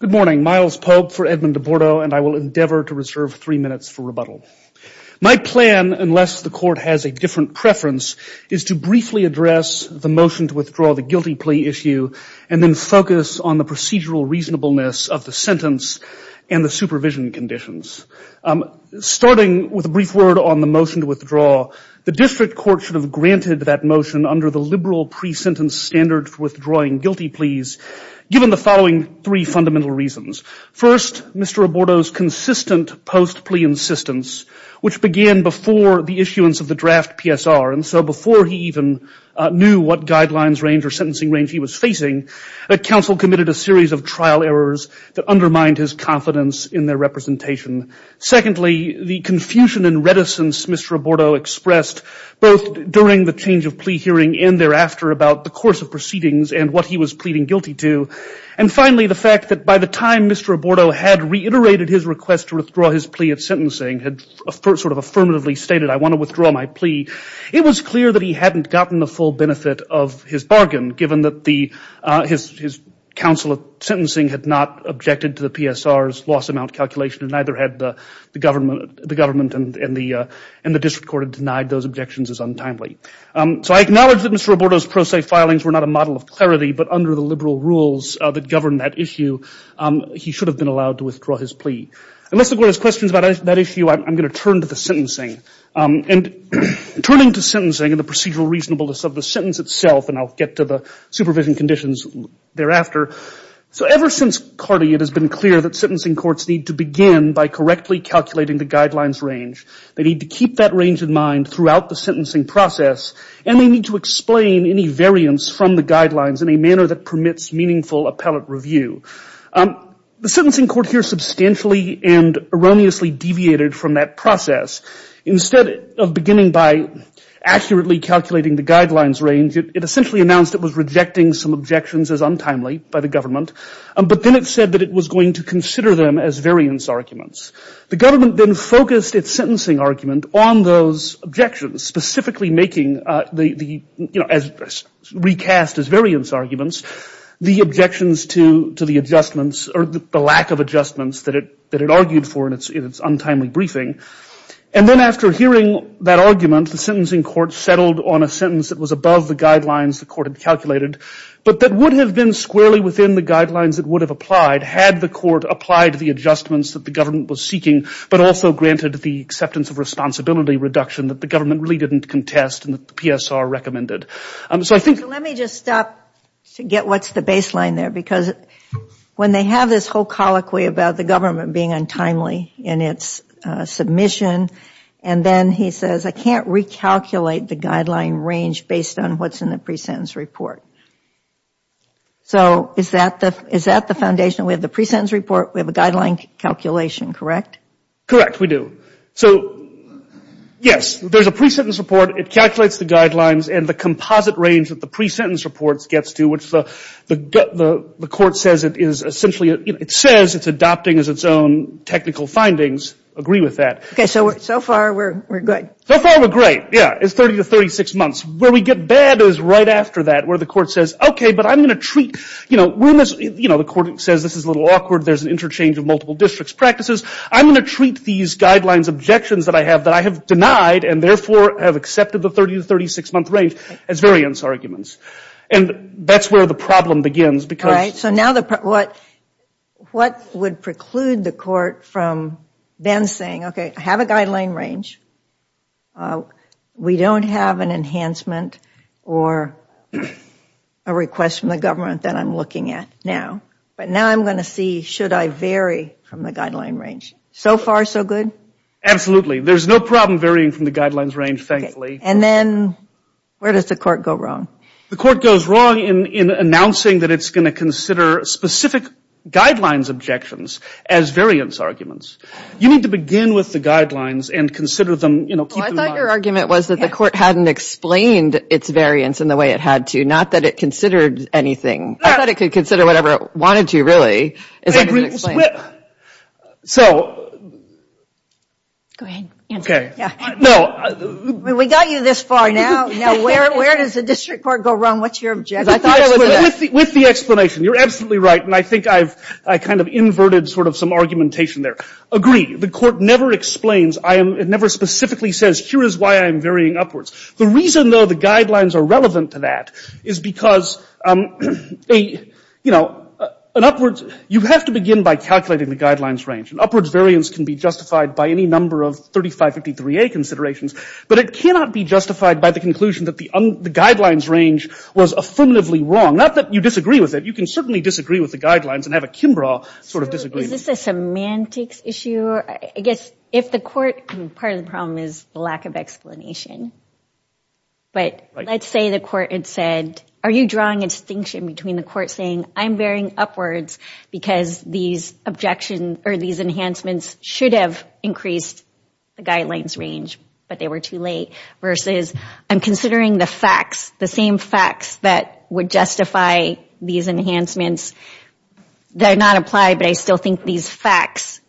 Good morning. Miles Pope for Edmund Abordo and I will endeavor to reserve three minutes for rebuttal. My plan, unless the court has a different preference, is to briefly address the motion to withdraw the guilty plea issue and then focus on the procedural reasonableness of the sentence and the supervision conditions. Starting with a brief word on the motion to withdraw, the district court should have granted that motion under the liberal pre-sentence standard for withdrawing guilty pleas given the following three fundamental reasons. First, Mr. Abordo's consistent post-plea insistence, which began before the issuance of the draft PSR, and so before he even knew what guidelines range or sentencing range he was facing, that counsel committed a series of trial errors that undermined his confidence in their representation. Secondly, the confusion and reticence Mr. Abordo expressed both during the change of plea hearing and thereafter about the course of proceedings and what he was pleading guilty to. And finally, the fact that by the time Mr. Abordo had reiterated his request to withdraw his plea at sentencing, had sort of affirmatively stated, I want to withdraw my plea, it was clear that he hadn't gotten the full benefit of his bargain given that his counsel at sentencing had not objected to the PSR's loss amount calculation and neither had the government and the district court had denied those objections as untimely. So I acknowledge that Mr. Abordo's pro se filings were not a model of clarity, but under the liberal rules that govern that issue, he should have been allowed to withdraw his plea. Unless the court has questions about that issue, I'm going to turn to the sentencing. And turning to sentencing and the procedural reasonableness of the sentence itself, and I'll get to the supervision conditions thereafter. So ever since Carty, it has been clear that sentencing courts need to begin by correctly calculating the guidelines range. They need to keep that range in mind throughout the sentencing process, and they need to explain any variance from the guidelines in a manner that permits meaningful appellate review. The sentencing court here substantially and erroneously deviated from that process. Instead of beginning by accurately calculating the guidelines range, it essentially announced it was rejecting some objections as untimely by the government, but then it said that it was going to consider them as variance arguments. The government then focused its sentencing argument on those objections, specifically making the, you know, recast as variance arguments, the objections to the adjustments or the lack of adjustments that it argued for in its untimely briefing. And then after hearing that argument, the sentencing court settled on a sentence that was above the guidelines the court had calculated, but that would have been squarely within the guidelines that would have applied had the court applied the adjustments that the government was seeking, but also granted the acceptance of responsibility reduction that the government really didn't contest and that the PSR recommended. So let me just stop to get what's the baseline there, because when they have this whole colloquy about the government being untimely in its submission, and then he says, I can't recalculate the guideline range based on what's in the pre-sentence report. So is that the foundation? We have the pre-sentence report, we have a guideline calculation, correct? Correct, we do. So, yes, there's a pre-sentence report, it calculates the guidelines, and the composite range that the pre-sentence report gets to, which the court says it is essentially, it says it's adopting as its own technical findings, I agree with that. Okay, so far we're good. So far we're great, yeah, it's 30 to 36 months. Where we get bad is right after that, where the court says, okay, but I'm going to treat, you know, the court says this is a little awkward, there's an interchange of multiple district's practices, I'm going to treat these guidelines objections that I have that I have denied and therefore have accepted the 30 to 36 month range as variance arguments. And that's where the problem begins, because... All right, so now what would preclude the court from then saying, okay, I have a guideline range, we don't have an enhancement or a request from the government that I'm looking at now, but now I'm going to see, should I vary from the guideline range? So far, so good? Absolutely, there's no problem varying from the guidelines range, thankfully. And then, where does the court go wrong? The court goes wrong in announcing that it's going to consider specific guidelines objections as variance arguments. You need to begin with the guidelines and consider them, you know, keep them... Well, I thought your argument was that the court hadn't explained its variance in the way it had to, not that it considered anything. I thought it could consider whatever it wanted to, really, as an explanation. Go ahead, answer it. We got you this far, now where does the district court go wrong? What's your objection? With the explanation, you're absolutely right, and I think I've kind of inverted sort of some argumentation there. Agree, the court never explains, it never specifically says, here is why I'm varying upwards. The reason, though, the guidelines are relevant to that is because, you know, an upwards... You have to begin by calculating the guidelines range. An upwards variance can be justified by any number of 3553A considerations, but it cannot be justified by the conclusion that the guidelines range was affirmatively wrong. Not that you disagree with it, you can certainly disagree with the guidelines and have a Kimbrough sort of disagreement. So, is this a semantics issue? I guess, if the court... Part of the problem is the lack of explanation. But, let's say the court had said, are you drawing a distinction between the court saying, I'm varying upwards because these enhancements should have increased the guidelines range, but they were too late, versus, I'm considering the facts, the same facts that would justify these enhancements. They're not applied, but I still think these facts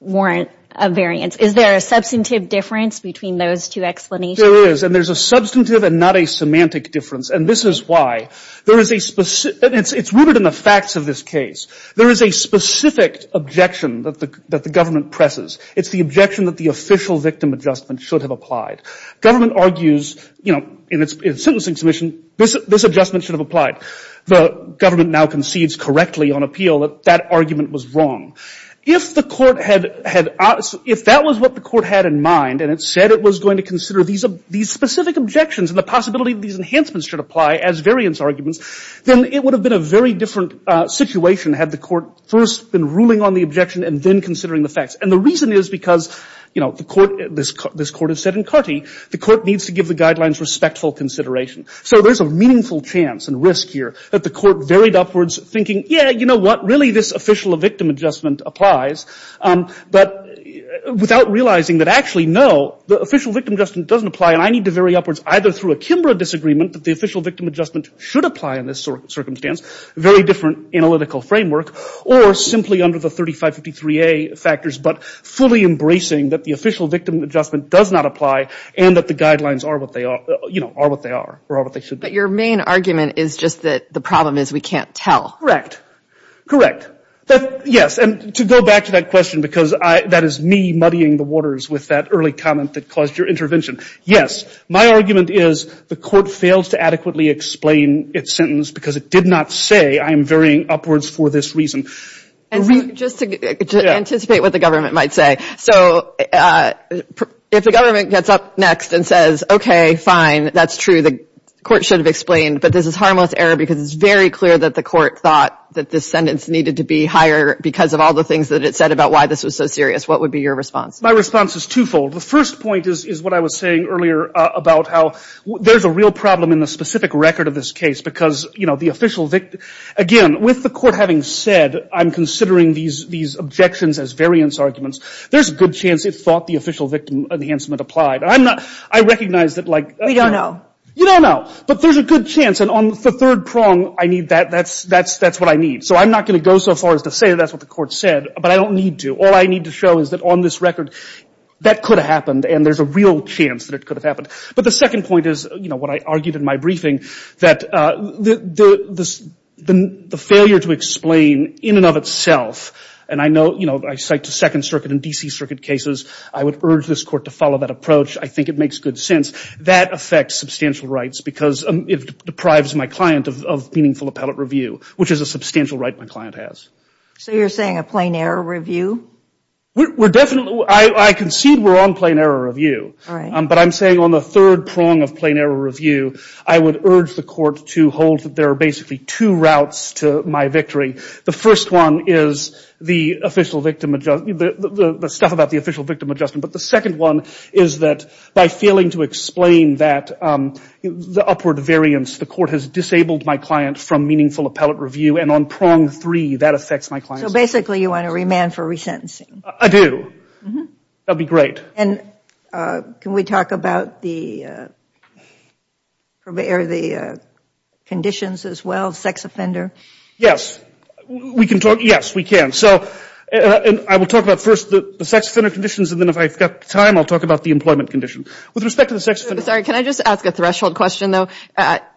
warrant a variance. Is there a substantive difference between those two explanations? There is, and there's a substantive and not a semantic difference, and this is why. There is a specific... It's rooted in the facts of this case. There is a specific objection that the government presses. It's the objection that the official victim adjustment should have applied. Government argues, you know, in its sentencing submission, this adjustment should have applied. The government now concedes correctly on appeal that that argument was wrong. If the court had... If that was what the court had in mind, and it said it was going to consider these specific objections and the possibility that these enhancements should apply as variance arguments, then it would have been a very different situation had the court first been ruling on the objection and then considering the facts. And the reason is because, you know, the court... This court has said in Carty, the court needs to give the guidelines respectful consideration. So, there's a meaningful chance and risk here that the court varied upwards thinking, yeah, you know what, really this official victim adjustment applies, but without realizing that actually, no, the official victim adjustment doesn't apply and I need to vary upwards either through a Kimbrough disagreement that the official victim adjustment should apply in this circumstance, very different analytical framework, or simply under the 3553A factors, but fully embracing that the official victim adjustment does not apply and that the guidelines are what they are, you know, are what they are or are what they should be. But your main argument is just that the problem is we can't tell. Correct. Correct. Yes, and to go back to that question, because that is me muddying the waters with that early comment that caused your intervention. Yes, my argument is the court failed to adequately explain its sentence because it did not say I am varying upwards for this reason. And just to anticipate what the government might say. So, if the government gets up next and says, okay, fine, that's true, the court should have explained, but this is harmless error because it's very clear that the court thought that this sentence needed to be higher because of all the things that it said about why this was so serious, what would be your response? My response is twofold. The first point is what I was saying earlier about how there's a real problem in the specific record of this case because, you know, the official, again, with the court having said I'm considering these objections as variance arguments, there's a good chance it thought the official victim enhancement applied. I'm not, I recognize that like We don't know. You don't know, but there's a good chance. And on the third prong, I need that, that's what I need. So I'm not going to go so far as to say that's what the court said, but I don't need to. All I need to show is that on this record, that could have happened and there's a real chance that it could have happened. But the second point is, you know, what I argued in my briefing, that the failure to explain in and of itself, and I know, you know, I cite the Second Circuit and D.C. Circuit cases. I would urge this court to follow that approach. I think it makes good sense. That affects substantial rights because it deprives my client of meaningful appellate review, which is a substantial right my client has. So you're saying a plain error review? We're definitely, I concede we're on plain error review. All right. But I'm saying on the third prong of plain error review, I would urge the court to hold that there are basically two routes to my victory. The first one is the official victim adjustment, the stuff about the official victim adjustment, but the second one is that by failing to explain that, the upward variance, the court has disabled my client from meaningful appellate review and on prong three, that affects my client. So basically you want to remand for resentencing? I do. That would be great. And can we talk about the conditions as well, sex offender? Yes. We can talk. Yes, we can. So I will talk about first the sex offender conditions and then if I've got time, I'll talk about the employment condition. With respect to the sex offender. Sorry, can I just ask a threshold question, though?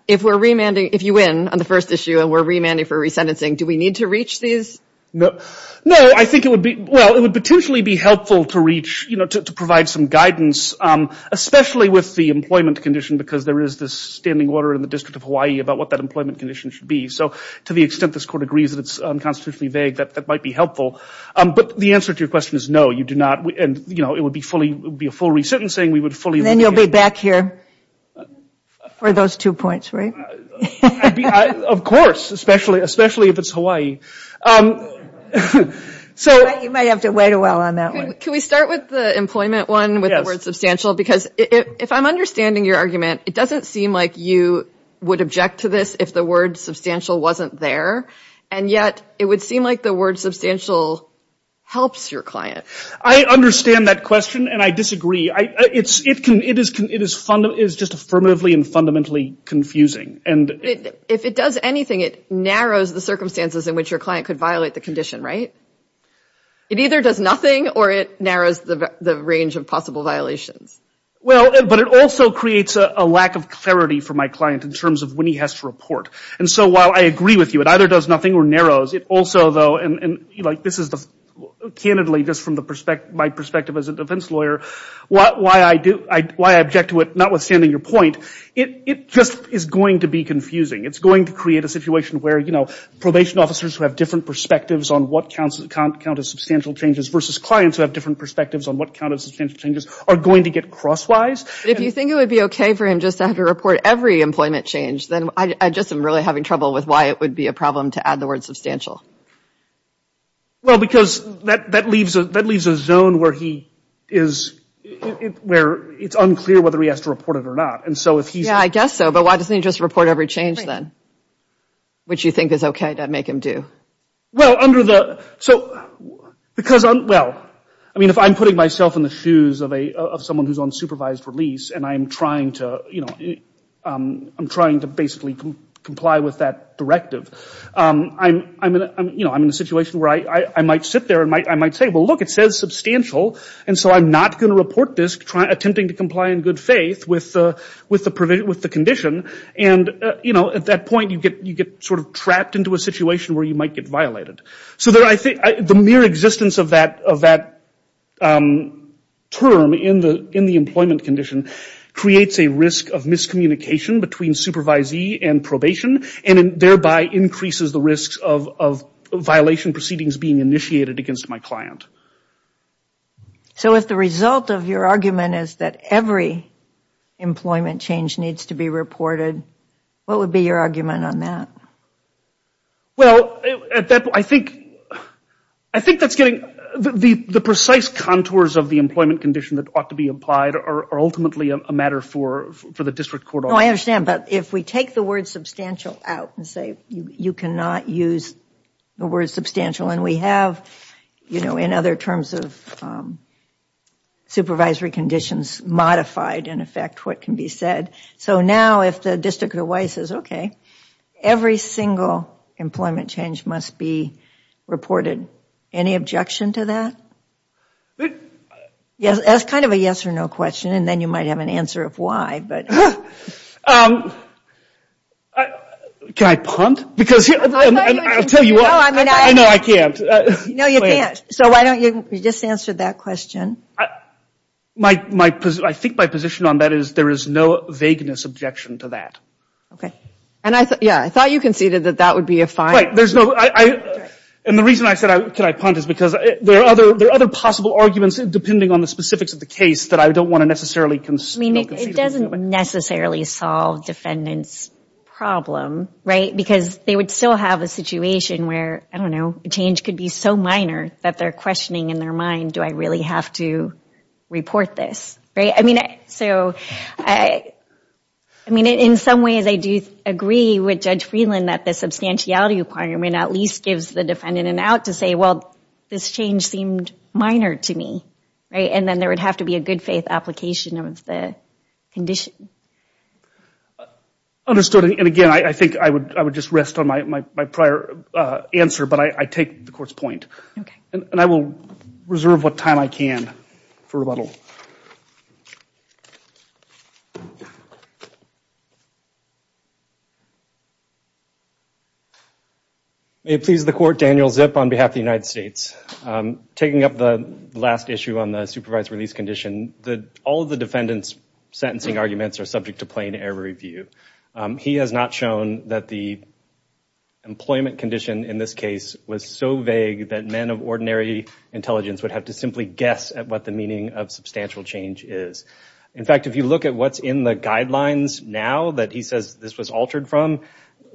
If we're remanding, if you win on the first issue and we're remanding for resentencing, do we need to reach these? No, I think it would be, well, it would potentially be helpful to reach, you know, to provide some guidance, especially with the employment condition, because there is this standing order in the District of Hawaii about what that employment condition should be. So to the extent this court agrees that it's unconstitutionally vague, that might be helpful. But the answer to your question is no, you do not. And, you know, it would be fully, it would be a full resentencing, we would fully And then you'll be back here for those two points, right? Of course, especially if it's Hawaii. You might have to wait a while on that one. Can we start with the employment one with the word substantial? Because if I'm understanding your argument, it doesn't seem like you would object to this if the word substantial wasn't there, and yet it would seem like the word substantial helps your client. I understand that question and I disagree. It is just affirmatively and fundamentally confusing. If it does anything, it narrows the circumstances in which your client could violate the condition, right? It either does nothing or it narrows the range of possible violations. Well, but it also creates a lack of clarity for my client in terms of when he has to report. And so while I agree with you, it either does nothing or narrows. It also, though, and this is candidly just from my perspective as a defense lawyer, why I object to it, notwithstanding your point, it just is going to be confusing. It's going to create a situation where, you know, probation officers who have different perspectives on what counts as substantial changes versus clients who have different perspectives on what counts as substantial changes are going to get crosswise. If you think it would be okay for him just to have to report every employment change, then I just am really having trouble with why it would be a problem to add the word substantial. Well, because that leaves a zone where it's unclear whether he has to report it or not. Yeah, I guess so, but why doesn't he just report every change then, which you think is okay to make him do? Well, under the, so, because, well, I mean, if I'm putting myself in the shoes of someone who's on supervised release and I'm trying to, you know, I'm trying to basically comply with that directive, I'm in a situation where I might sit there and I might say, well, look, it says substantial, and so I'm not going to report this attempting to comply in good faith with the condition, and, you know, at that point you get sort of trapped into a situation where you might get violated. So the mere existence of that term in the employment condition creates a risk of miscommunication between supervisee and probation, and thereby increases the risks of violation proceedings being initiated against my client. So if the result of your argument is that every employment change needs to be reported, what would be your argument on that? Well, at that point, I think, I think that's getting, the precise contours of the employment condition that ought to be applied are ultimately a matter for the district court. No, I understand, but if we take the word substantial out and say you cannot use the word substantial, and we have, you know, in other terms of supervisory conditions, modified in effect what can be said, so now if the district of Hawaii says, okay, every single employment change must be reported, any objection to that? Yes, that's kind of a yes or no question, and then you might have an answer of why, but. Can I punt? Because, I'll tell you what, I know I can't. No, you can't. So why don't you, you just answered that question. My, I think my position on that is there is no vagueness objection to that. Okay. And I thought, yeah, I thought you conceded that that would be a fine. Right, there's no, and the reason I said can I punt is because there are other possible arguments depending on the specifics of the case that I don't want to necessarily concede. I mean, it doesn't necessarily solve defendant's problem, right, because they would still have a situation where, I don't know, a change could be so minor that they're questioning in their mind, do I really have to report this, right? I mean, so, I mean, in some ways I do agree with Judge Freeland that the substantiality requirement at least gives the defendant an out to say, well, this change seemed minor to me, right, and then there would have to be a good faith application of the condition. Understood, and again, I think I would just rest on my prior answer, but I take the court's point. Okay. And I will reserve what time I can for rebuttal. May it please the court, Daniel Zip on behalf of the United States. Taking up the last issue on the supervised release condition, all of the defendant's sentencing arguments are subject to plain error review. He has not shown that the employment condition in this case was so vague that men of ordinary intelligence would have to simply guess at what the meaning of substantial change is. In fact, if you look at what's in the guidelines now that he says this was altered from,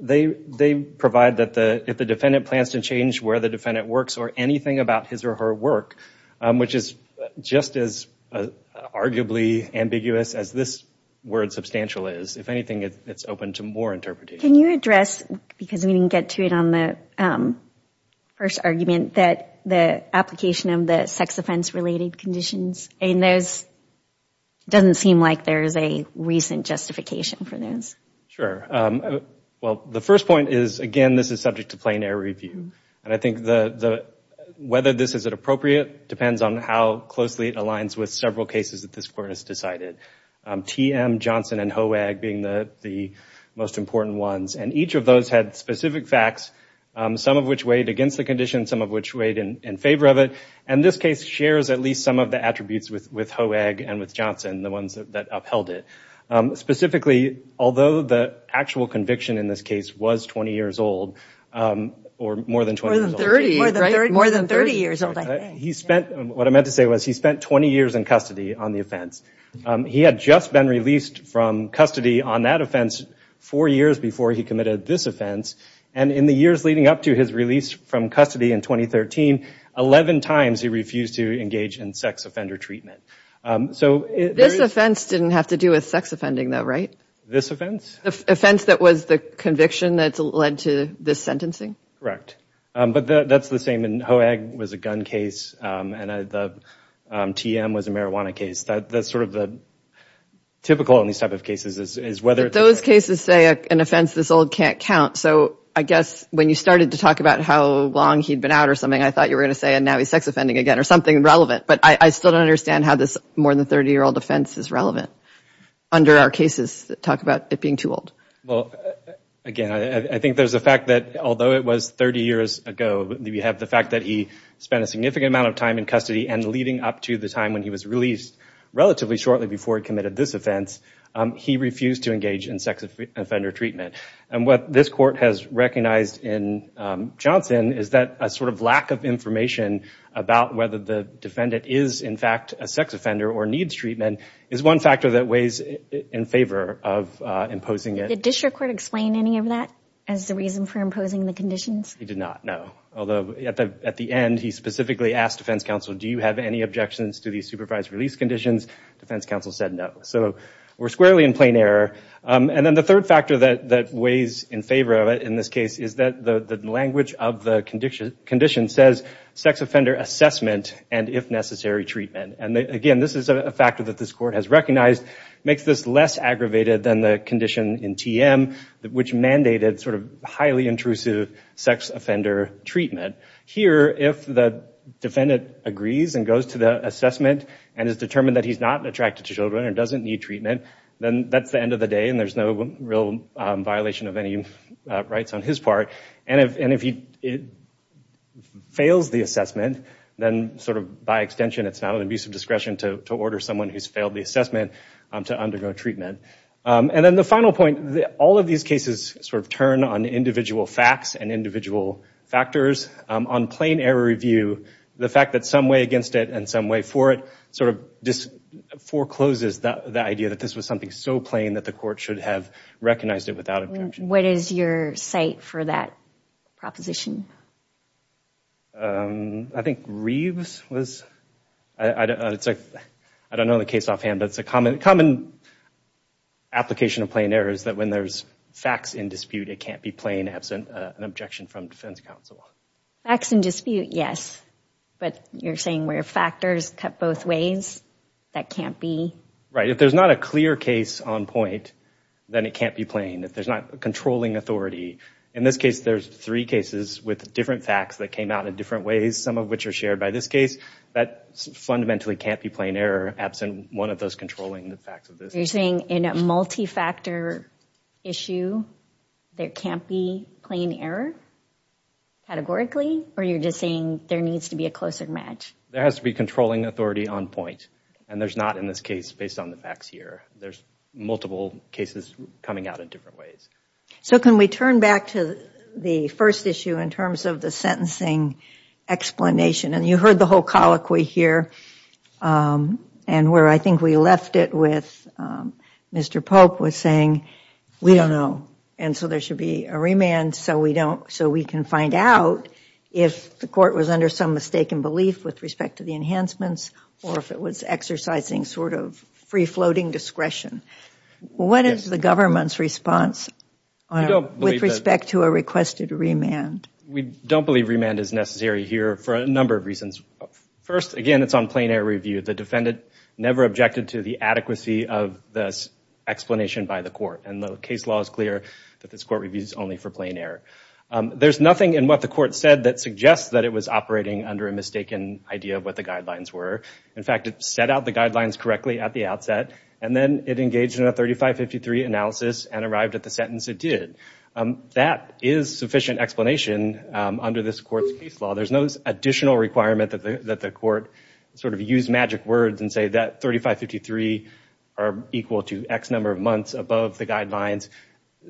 they provide that if the defendant plans to change where the defendant works or anything about his or her work, which is just as arguably ambiguous as this word substantial is. If anything, it's open to more interpretation. Can you address, because we didn't get to it on the first argument, that the application of the sex offense related conditions in those doesn't seem like there is a recent justification for those. Sure. Well, the first point is, again, this is subject to plain error review. And I think whether this is appropriate depends on how closely it aligns with several cases that this court has decided. TM, Johnson, and Hoag being the most important ones. And each of those had specific facts, some of which weighed against the condition, some of which weighed in favor of it. And this case shares at least some of the attributes with Hoag and with Johnson, the ones that upheld it. Specifically, although the actual conviction in this case was 20 years old, or more than 20 years old. More than 30, right? More than 30 years old, I think. He spent, what I meant to say was, he spent 20 years in custody on the offense. He had just been released from custody on that offense four years before he committed this offense. And in the years leading up to his release from custody in 2013, 11 times he refused to engage in sex offender treatment. This offense didn't have to do with sex offending though, right? This offense? The offense that was the conviction that led to this sentencing? But that's the same in Hoag was a gun case, and TM was a marijuana case. That's sort of the typical in these type of cases is whether it's... But those cases say an offense this old can't count. So I guess when you started to talk about how long he'd been out or something, I thought you were going to say, and now he's sex offending again, or something relevant. But I still don't understand how this more than 30-year-old offense is relevant under our cases that talk about it being too old. Well, again, I think there's a fact that although it was 30 years ago, we have the fact that he spent a significant amount of time in custody and leading up to the time when he was released relatively shortly before he committed this offense, he refused to engage in sex offender treatment. And what this court has recognized in Johnson is that a sort of lack of information about whether the defendant is in fact a sex offender or needs treatment is one factor that weighs in favor of imposing it. Did the district court explain any of that as the reason for imposing the conditions? They did not, no. Although at the end, he specifically asked defense counsel, do you have any objections to these supervised release conditions? Defense counsel said no. So we're squarely in plain error. And then the third factor that weighs in favor of it in this case is that the language of the condition says sex offender assessment and, if necessary, treatment. And again, this is a factor that this court has recognized. Makes this less aggravated than the condition in TM, which mandated sort of highly intrusive sex offender treatment. Here, if the defendant agrees and goes to the assessment and is determined that he's not attracted to children and doesn't need treatment, then that's the end of the day and there's no real violation of any rights on his part. And if he fails the assessment, then sort of by extension, it's not an abuse of discretion to order someone who's failed the assessment to undergo treatment. And then the final point, all of these cases sort of turn on individual facts and individual factors. On plain error review, the fact that some way against it and some way for it sort of forecloses the idea that this was something so plain that the court should have recognized it without objection. What is your site for that proposition? I think Reeves was, I don't know the case offhand, but it's a common application of plain error is that when there's facts in dispute, it can't be plain absent an objection from defense counsel. Facts in dispute, yes. But you're saying where factors cut both ways, that can't be? Right. If there's not a clear case on point, then it can't be plain. If there's not a controlling authority, in this case, there's three cases with different facts that came out in different ways, some of which are shared by this case, that fundamentally can't be plain error absent one of those controlling the facts of this. You're saying in a multi-factor issue, there can't be plain error categorically? Or you're just saying there needs to be a closer match? There has to be controlling authority on point. And there's not in this case based on the facts here. There's multiple cases coming out in different ways. So can we turn back to the first issue in terms of the sentencing explanation? And you heard the whole colloquy here, and where I think we left it with Mr. Pope was saying, we don't know, and so there should be a remand so we can find out if the court was under some mistaken belief with respect to the enhancements, or if it was exercising sort of free-floating discretion. What is the government's response with respect to a requested remand? We don't believe remand is necessary here for a number of reasons. First, again, it's on plain error review. The defendant never objected to the adequacy of this explanation by the court. And the case law is clear that this court reviews only for plain error. There's nothing in what the court said that suggests that it was operating under a mistaken idea of what the guidelines were. In fact, it set out the guidelines correctly at the outset, and then it engaged in a 3553 analysis and arrived at the sentence it did. That is sufficient explanation under this court's case law. There's no additional requirement that the court sort of use magic words and say that 3553 are equal to X number of months above the guidelines.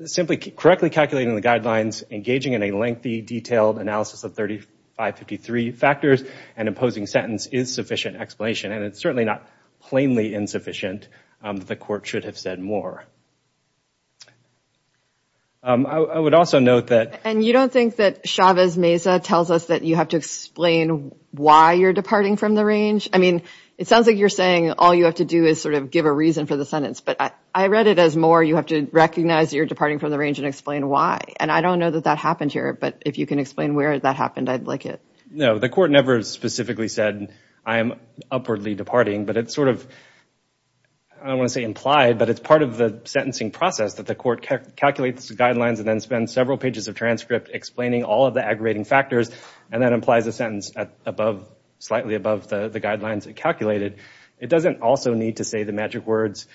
Simply correctly calculating the guidelines, engaging in a lengthy, detailed analysis of 3553 factors and imposing sentence is sufficient explanation. And it's certainly not plainly insufficient. The court should have said more. I would also note that... And you don't think that Chavez-Meza tells us that you have to explain why you're departing from the range? I mean, it sounds like you're saying all you have to do is sort of give a reason for the sentence, but I read it as more you have to recognize you're departing from the range and explain why. And I don't know that that happened here, but if you can explain where that happened, I'd like it. No. The court never specifically said, I am upwardly departing, but it's sort of, I don't want to say implied, but it's part of the sentencing process that the court calculates the guidelines and then spends several pages of transcript explaining all of the aggregating factors, and then implies a sentence slightly above the guidelines it calculated. It doesn't also need to say the magic words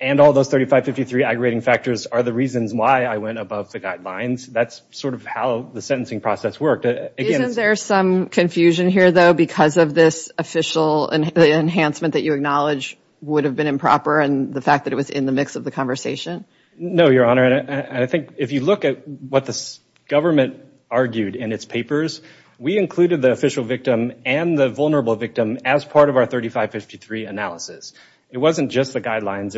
and all those 3553 aggregating factors are the reasons why I went above the guidelines. That's sort of how the sentencing process worked. Isn't there some confusion here, though, because of this official enhancement that you acknowledge would have been improper and the fact that it was in the mix of the conversation? No, Your Honor. And I think if you look at what the government argued in its papers, we included the official victim and the vulnerable victim as part of our 3553 analysis. It wasn't just the guidelines.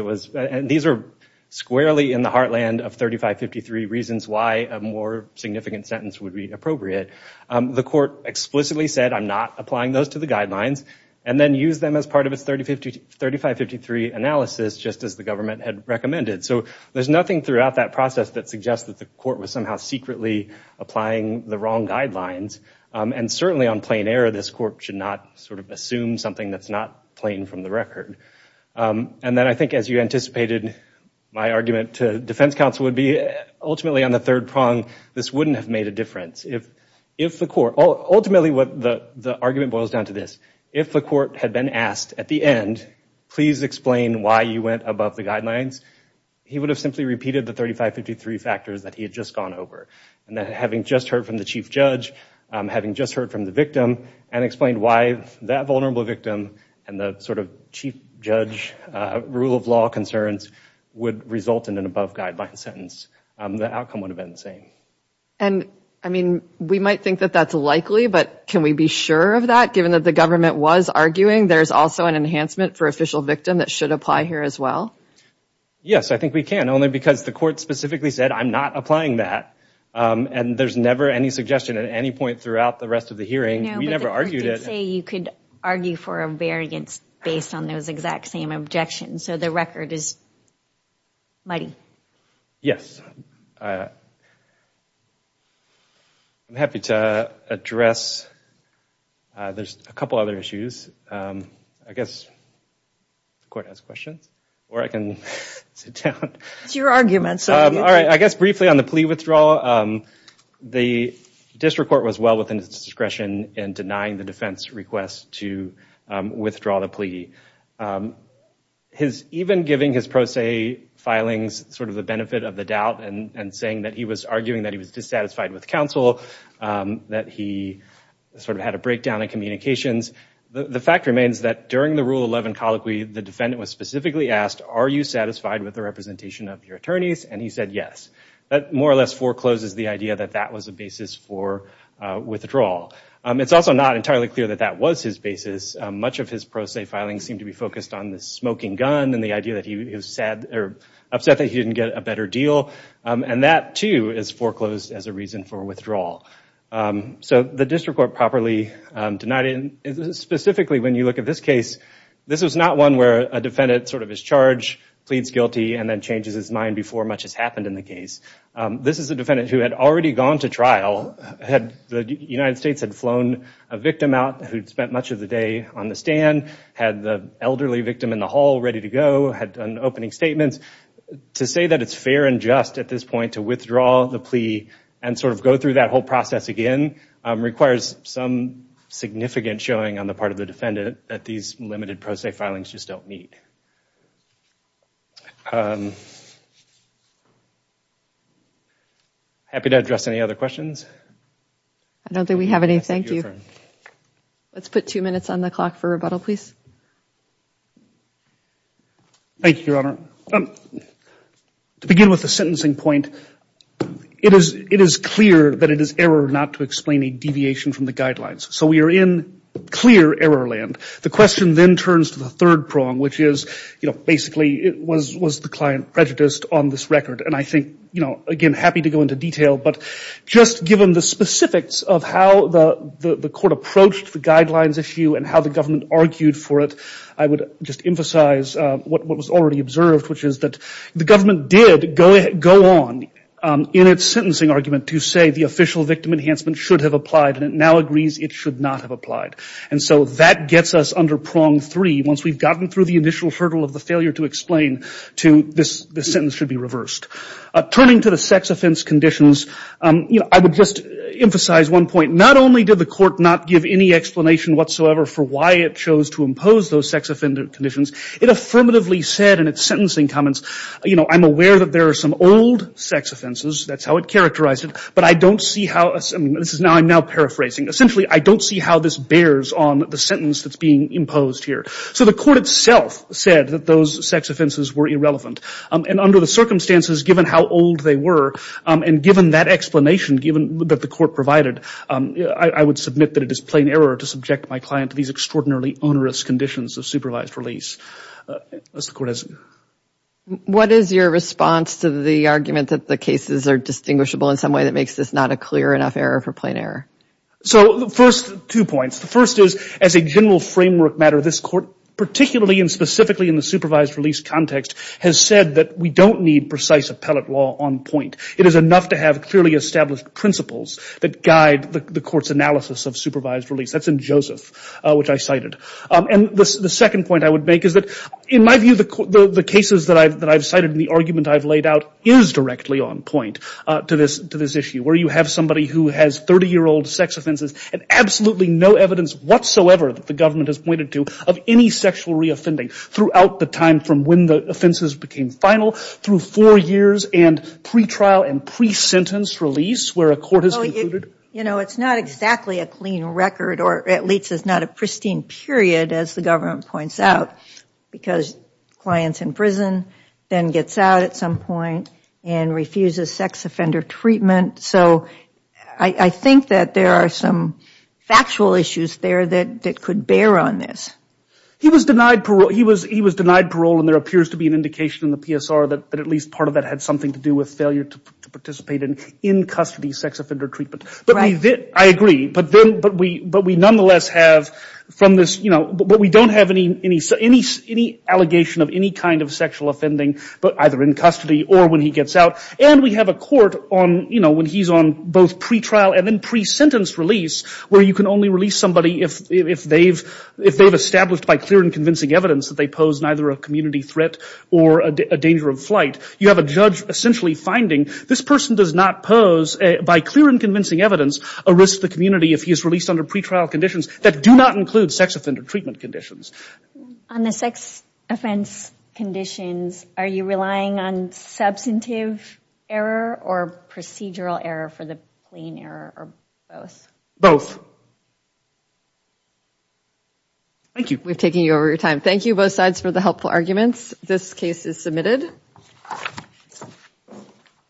These are squarely in the heartland of 3553 reasons why a more significant sentence would be appropriate. The court explicitly said, I'm not applying those to the guidelines, and then used them as part of its 3553 analysis, just as the government had recommended. So there's nothing throughout that process that suggests that the court was somehow secretly applying the wrong guidelines. And certainly on plain error, this court should not sort of assume something that's not plain from the record. And then I think, as you anticipated, my argument to defense counsel would be, ultimately, on the third prong, this wouldn't have made a difference. Ultimately, the argument boils down to this. If the court had been asked at the end, please explain why you went above the guidelines, he would have simply repeated the 3553 factors that he had just gone over. And then having just heard from the chief judge, having just heard from the victim, and explained why that vulnerable victim and the sort of chief judge rule of law concerns would result in an above-guideline sentence, the outcome would have been the same. And, I mean, we might think that that's likely, but can we be sure of that, given that the government was arguing there's also an enhancement for official victim that should apply here as well? Yes, I think we can, only because the court specifically said, I'm not applying that. And there's never any suggestion at any point throughout the rest of the hearing. We never argued it. No, but the court did say you could argue for a variance based on those exact same objections. So the record is muddy. Yes. I'm happy to address. There's a couple other issues. I guess the court has questions. Or I can sit down. It's your argument. All right, I guess briefly on the plea withdrawal, the district court was well within its discretion in denying the defense request to withdraw the plea. Even giving his pro se filings sort of the benefit of the doubt and saying that he was arguing that he was dissatisfied with counsel, that he sort of had a breakdown in communications, the fact remains that during the Rule 11 colloquy, the defendant was specifically asked, are you satisfied with the representation of your attorneys? And he said yes. That more or less forecloses the idea that that was a basis for withdrawal. It's also not entirely clear that that was his basis. Much of his pro se filings seem to be focused on the smoking gun and the idea that he was upset that he didn't get a better deal. And that, too, is foreclosed as a reason for withdrawal. So the district court properly denied it. Specifically, when you look at this case, this is not one where a defendant sort of pleads guilty and then changes his mind before much has happened in the case. This is a defendant who had already gone to trial. The United States had flown a victim out who'd spent much of the day on the stand, had the elderly victim in the hall ready to go, had done opening statements. To say that it's fair and just at this point to withdraw the plea and sort of go through that whole process again requires some significant showing on the part of the defendant that these limited pro se filings just don't meet. Happy to address any other questions. I don't think we have any. Thank you. Let's put two minutes on the clock for rebuttal, please. Thank you, Your Honor. To begin with the sentencing point, it is clear that it is error not to explain a deviation from the guidelines. So we are in clear error land. The question then turns to the third prong, which is basically was the client prejudiced on this record? And I think, again, happy to go into detail, but just given the specifics of how the court approached the guidelines issue and how the government argued for it, I would just emphasize what was already observed, which is that the government did go on in its sentencing argument to say the official victim enhancement should have applied and it now agrees it should not have applied. And so that gets us under prong three once we've gotten through the initial hurdle of the failure to explain to this sentence should be reversed. Turning to the sex offense conditions, I would just emphasize one point. Not only did the court not give any explanation whatsoever for why it chose to impose those sex offender conditions, it affirmatively said in its sentencing comments, you know, I'm aware that there are some old sex offenses. That's how it characterized it. But I don't see how this is now I'm now paraphrasing. Essentially, I don't see how this bears on the sentence that's being imposed here. So the court itself said that those sex offenses were irrelevant. And under the circumstances, given how old they were and given that explanation, given that the court provided, I would submit that it is plain error to subject my client to these extraordinarily onerous conditions of supervised release. Unless the court has... What is your response to the argument that the cases are distinguishable in some way that makes this not a clear enough error for plain error? So first, two points. The first is, as a general framework matter, this court, particularly and specifically in the supervised release context, has said that we don't need precise appellate law on point. It is enough to have clearly established principles that guide the court's analysis of supervised release. That's in Joseph, which I cited. And the second point I would make is that, in my view, the cases that I've cited and the argument I've laid out is directly on point to this issue, where you have somebody who has 30-year-old sex offenses and absolutely no evidence whatsoever that the government has pointed to of any sexual reoffending throughout the time from when the offenses became final through four years and pre-trial and pre-sentence release where a court has concluded... You know, it's not exactly a clean record, or at least it's not a pristine period, as the government points out, because client's in prison, then gets out at some point and refuses sex offender treatment. So I think that there are some factual issues there that could bear on this. He was denied parole, and there appears to be an indication in the PSR that at least part of that had something to do with failure to participate in in-custody sex offender treatment. But I agree. But we nonetheless have, from this... But we don't have any allegation of any kind of sexual offending, but either in custody or when he gets out. And we have a court on, you know, when he's on both pre-trial and then pre-sentence release where you can only release somebody if they've established by clear and convincing evidence that they pose neither a community threat or a danger of flight. You have a judge essentially finding this person does not pose, by clear and convincing evidence, a risk to the community if he is released under pre-trial conditions that do not include sex offender treatment conditions. On the sex offense conditions, are you relying on substantive error or procedural error for the plain error or both? Both. Thank you. We're taking over your time. Thank you, both sides, for the helpful arguments. This case is submitted.